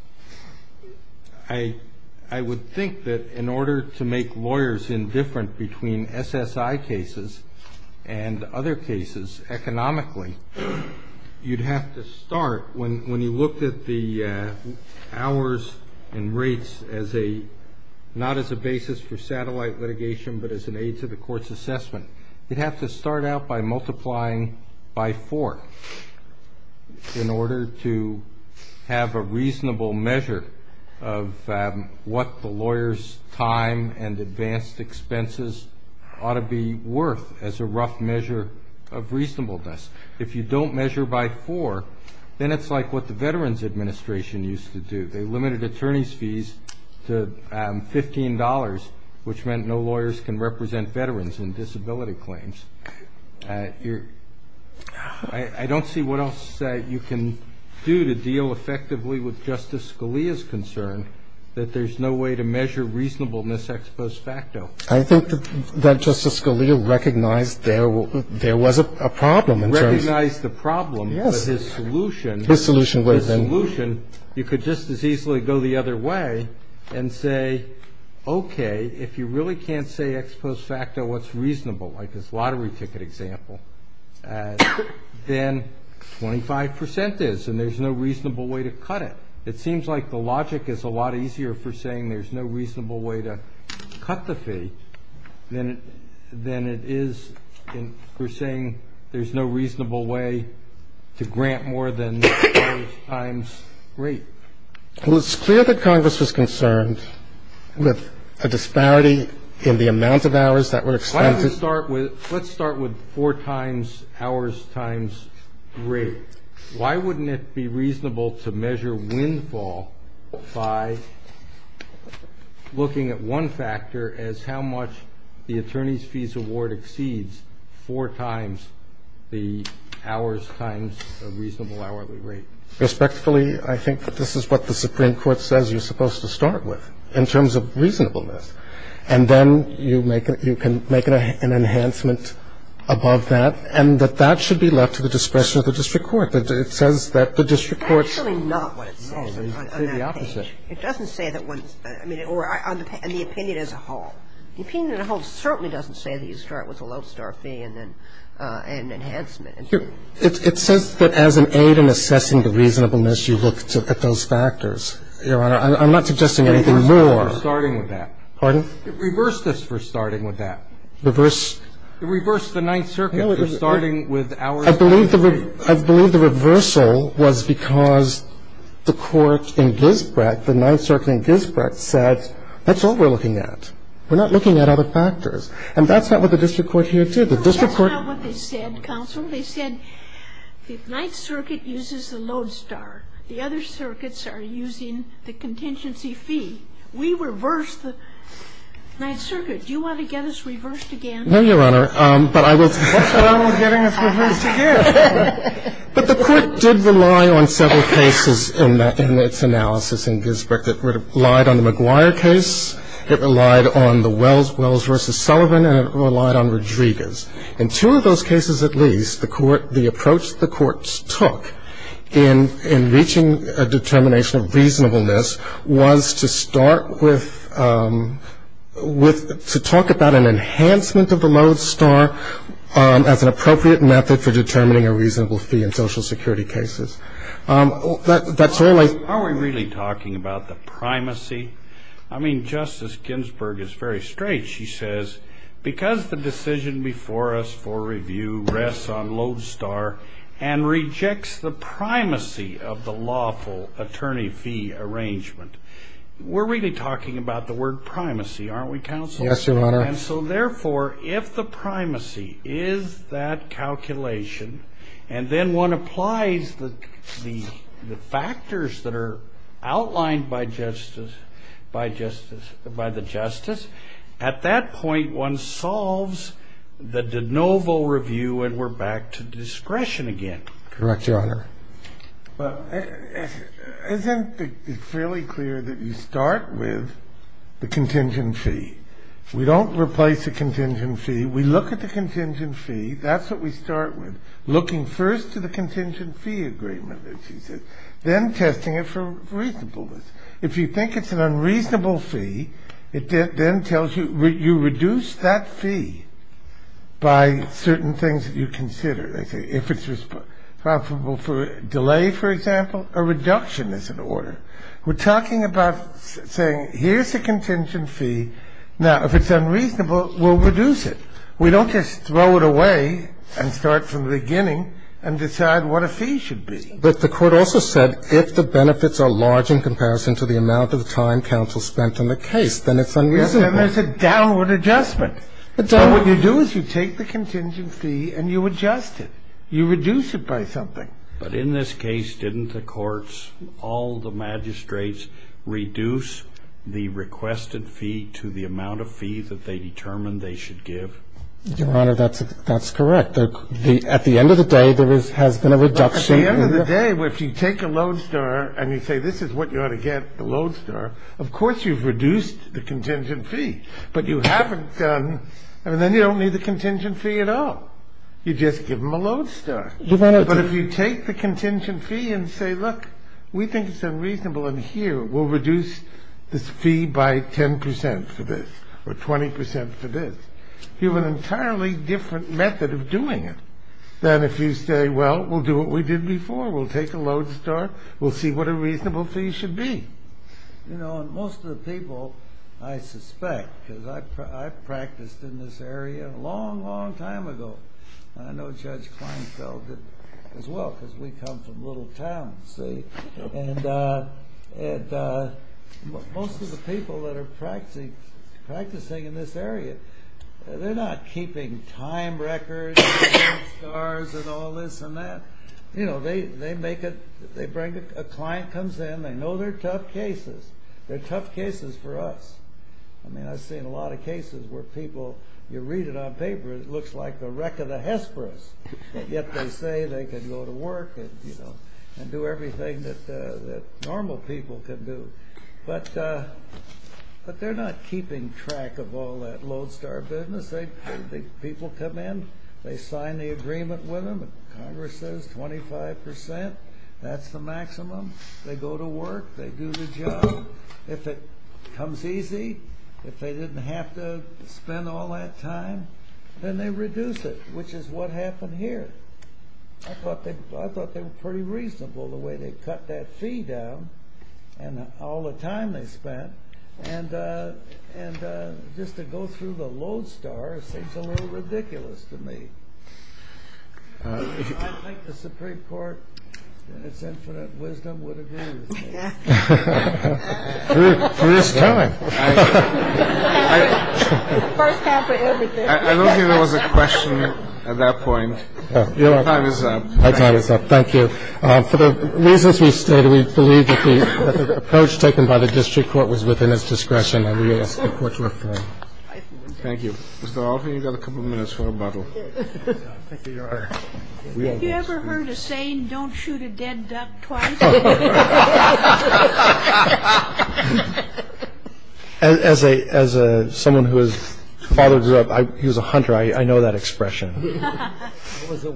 I would think that in order to make lawyers indifferent between SSI cases and other cases economically, you'd have to start, when you looked at the hours and rates as a – not as a basis for satellite litigation, but as an aid to the court's assessment, you'd have to start out by multiplying by four in order to have a reasonable measure of what the lawyer's time and advanced expenses ought to be worth as a rough measure of reasonableness. If you don't measure by four, then it's like what the Veterans Administration used to do. They limited attorney's fees to $15, which meant no lawyers can represent veterans in disability claims. I don't see what else you can do to deal effectively with Justice Scalia's concern that there's no way to measure reasonableness ex post facto. I think that Justice Scalia recognized there was a problem in terms of – Recognized the problem. Yes. But his solution – His solution was –– was to say if you really can't say ex post facto what's reasonable, like this lottery ticket example, then 25 percent is, and there's no reasonable way to cut it. It seems like the logic is a lot easier for saying there's no reasonable way to cut the fee than it is for saying there's no reasonable way to grant more than the lawyer's time's rate. Well, it's clear that Congress was concerned with a disparity in the amount of hours that were expended. Why don't we start with – let's start with four times hours times rate. Why wouldn't it be reasonable to measure windfall by looking at one factor as how much the attorney's fees award exceeds four times the hours times the reasonable hourly rate? I think it's reasonable to say, respectfully, I think that this is what the Supreme Court says you're supposed to start with in terms of reasonableness. And then you make – you can make an enhancement above that, and that that should be left to the discretion of the district court. It says that the district court's – It says that as an aid in assessing the reasonableness, you look at those factors. Your Honor, I'm not suggesting anything more. It reversed this for starting with that. Pardon? It reversed this for starting with that. Reversed? It reversed the Ninth Circuit for starting with hourly rates. I believe the reversal was because the court in Gisbrecht, the Ninth Circuit in Gisbrecht, said that's all we're looking at. We're not looking at other factors. And that's not what the district court here did. The district court – The Ninth Circuit uses the Lodestar. The other circuits are using the contingency fee. We reversed the Ninth Circuit. Do you want to get us reversed again? No, Your Honor. But I was – What's wrong with getting us reversed again? But the court did rely on several cases in its analysis in Gisbrecht. It relied on the McGuire case. It relied on the Wells versus Sullivan. And it relied on Rodriguez. In two of those cases at least, the court – the approach the courts took in reaching a determination of reasonableness was to start with – to talk about an enhancement of the Lodestar as an appropriate method for determining a reasonable fee in Social Security cases. That's all I – Are we really talking about the primacy? I mean, Justice Ginsburg is very straight. She says, because the decision before us for review rests on Lodestar and rejects the primacy of the lawful attorney fee arrangement. We're really talking about the word primacy, aren't we, Counsel? Yes, Your Honor. And so, therefore, if the primacy is that calculation, and then one applies the factors that are outlined by justice – by the justice, at that point one solves the de novo review and we're back to discretion again. Correct, Your Honor. Well, isn't it fairly clear that you start with the contingent fee? We don't replace the contingent fee. We look at the contingent fee. That's what we start with, looking first to the contingent fee agreement, as she says, then testing it for reasonableness. If you think it's an unreasonable fee, it then tells you – you reduce that fee by certain things that you consider. If it's responsible for delay, for example, a reduction is in order. We're talking about saying, here's a contingent fee. Now, if it's unreasonable, we'll reduce it. We don't just throw it away and start from the beginning and decide what a fee should be. But the court also said, if the benefits are large in comparison to the amount of time counsel spent on the case, then it's unreasonable. Yes, and there's a downward adjustment. So what you do is you take the contingent fee and you adjust it. You reduce it by something. But in this case, didn't the courts, all the magistrates, reduce the requested fee to the amount of fee that they determined they should give? Your Honor, that's correct. At the end of the day, there has been a reduction. But at the end of the day, if you take a Lodestar and you say, this is what you ought to get, the Lodestar, of course you've reduced the contingent fee. But you haven't done – I mean, then you don't need the contingent fee at all. You just give them a Lodestar. But if you take the contingent fee and say, look, we think it's unreasonable in here. We'll reduce this fee by 10% for this or 20% for this. You have an entirely different method of doing it than if you say, well, we'll do what we did before. We'll take a Lodestar. We'll see what a reasonable fee should be. You know, and most of the people, I suspect, because I practiced in this area a long, long time ago. I know Judge Kleinfeld did as well because we come from Little Town, see? And most of the people that are practicing in this area, they're not keeping time records and Lodestars and all this and that. You know, they make it – they bring – a client comes in, they know they're tough cases. They're tough cases for us. I mean, I've seen a lot of cases where people, you read it on paper, it looks like the wreck of the Hesperus. Yet they say they can go to work and, you know, and do everything that normal people can do. But they're not keeping track of all that Lodestar business. People come in. They sign the agreement with them. Congress says 25%. That's the maximum. They go to work. They do the job. If it comes easy, if they didn't have to spend all that time, then they reduce it, which is what happened here. I thought they were pretty reasonable, the way they cut that fee down and all the time they spent. And just to go through the Lodestar seems a little ridiculous to me. I think the Supreme Court, in its infinite wisdom, would agree with me. I don't think there was a question at that point. My time is up. My time is up. Thank you. For the reasons we stated, we believe that the approach taken by the district court was within its discretion and we ask the Court to refer. Thank you. Mr. Alford, you've got a couple of minutes for rebuttal. Thank you, Your Honor. Have you ever heard a saying, don't shoot a dead duck twice? As someone who was fathered up, he was a hunter, I know that expression. Mr.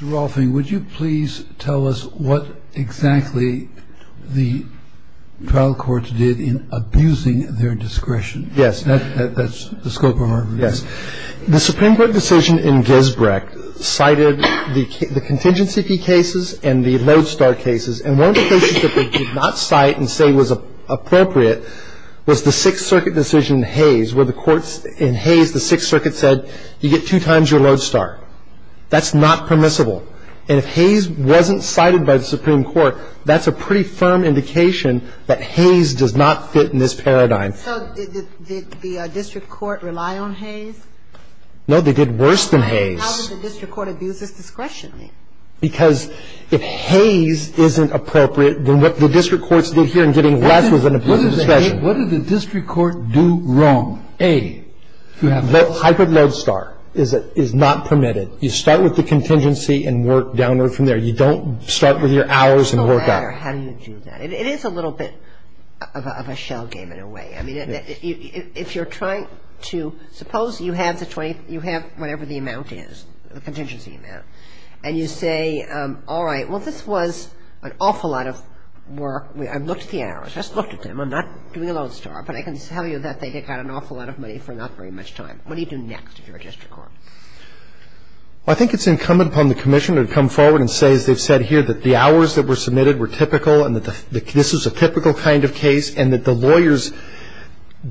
Rolfing, would you please tell us what exactly the trial court did in abusing their discretion? Yes. That's the scope of our review. Yes. The Supreme Court decision in Gisbrecht cited the contingency fee cases and the lodestar cases. And one of the cases that they did not cite and say was appropriate was the Sixth Circuit decision in Hayes where the courts in Hayes, the Sixth Circuit said you get two times your lodestar. That's not permissible. And if Hayes wasn't cited by the Supreme Court, that's a pretty firm indication that Hayes does not fit in this paradigm. So did the district court rely on Hayes? No, they did worse than Hayes. How did the district court abuse its discretion then? Because if Hayes isn't appropriate, then what the district courts did here in getting less was an abuse of discretion. What did the district court do wrong? A, hyperlodestar is not permitted. You start with the contingency and work downward from there. You don't start with your hours and work up. It doesn't matter how you do that. It is a little bit of a shell game in a way. I mean, if you're trying to – suppose you have the 20 – you have whatever the amount is, the contingency amount, and you say, all right, well, this was an awful lot of work. I've looked at the hours. I just looked at them. I'm not doing a lodestar. But I can tell you that they got an awful lot of money for not very much time. What do you do next if you're a district court? Well, I think it's incumbent upon the Commissioner to come forward and say, as they've said here, that the hours that were submitted were typical and that this was a typical kind of case and that the lawyers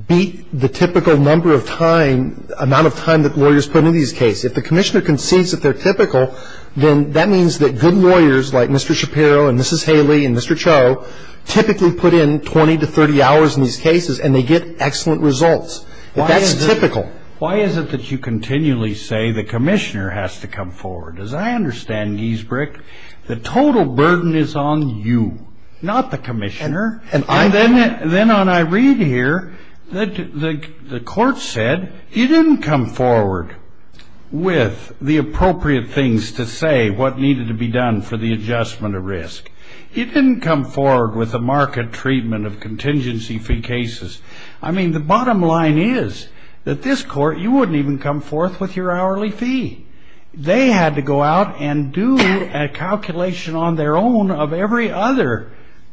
beat the typical number of time, amount of time that lawyers put in these cases. If the Commissioner concedes that they're typical, then that means that good lawyers like Mr. Shapiro and Mrs. Haley and Mr. Cho typically put in 20 to 30 hours in these cases and they get excellent results. That's typical. Why is it that you continually say the Commissioner has to come forward? As I understand, Giesbrecht, the total burden is on you, not the Commissioner. Then I read here that the court said, you didn't come forward with the appropriate things to say what needed to be done for the adjustment of risk. You didn't come forward with a market treatment of contingency fee cases. I mean, the bottom line is that this court, you wouldn't even come forth with your hourly fee. They had to go out and do a calculation on their own of every other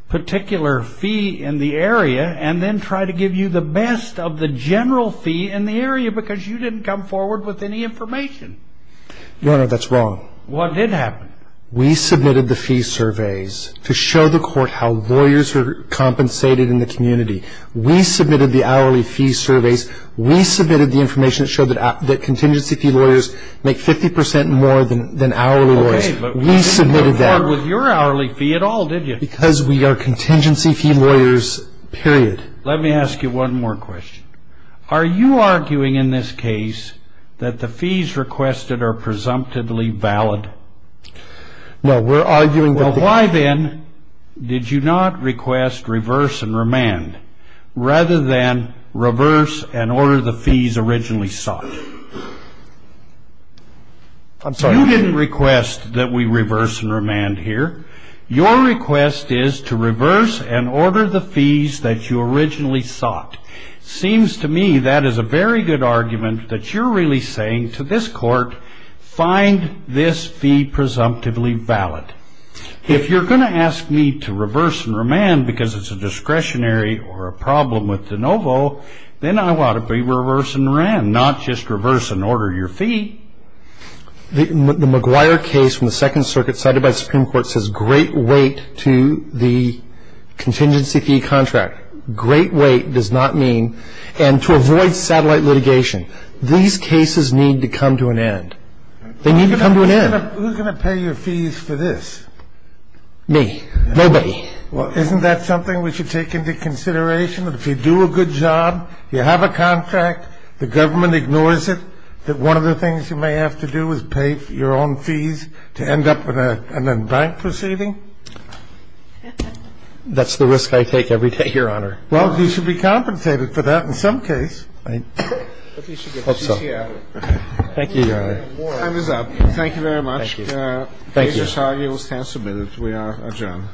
particular fee in the area and then try to give you the best of the general fee in the area because you didn't come forward with any information. Your Honor, that's wrong. What did happen? We submitted the fee surveys to show the court how lawyers are compensated in the community. We submitted the hourly fee surveys. We submitted the information that showed that contingency fee lawyers make 50% more than hourly lawyers. We submitted that. Okay, but you didn't come forward with your hourly fee at all, did you? Because we are contingency fee lawyers, period. Let me ask you one more question. Are you arguing in this case that the fees requested are presumptively valid? No, we're arguing that the Did you not request reverse and remand rather than reverse and order the fees originally sought? I'm sorry. You didn't request that we reverse and remand here. Your request is to reverse and order the fees that you originally sought. Seems to me that is a very good argument that you're really saying to this court, find this fee presumptively valid. If you're going to ask me to reverse and remand because it's a discretionary or a problem with de novo, then I ought to be reverse and rem, not just reverse and order your fee. The McGuire case from the Second Circuit cited by the Supreme Court says great weight to the contingency fee contract. Great weight does not mean, and to avoid satellite litigation, these cases need to come to an end. They need to come to an end. Who's going to pay your fees for this? Me. Nobody. Well, isn't that something we should take into consideration? If you do a good job, you have a contract, the government ignores it, that one of the things you may have to do is pay your own fees to end up in a bank proceeding? That's the risk I take every day, Your Honor. Well, you should be compensated for that in some case. I hope so. Thank you, Your Honor. Time is up. Thank you very much. Thank you. The case is argued and stands submitted. We are adjourned. Thank you.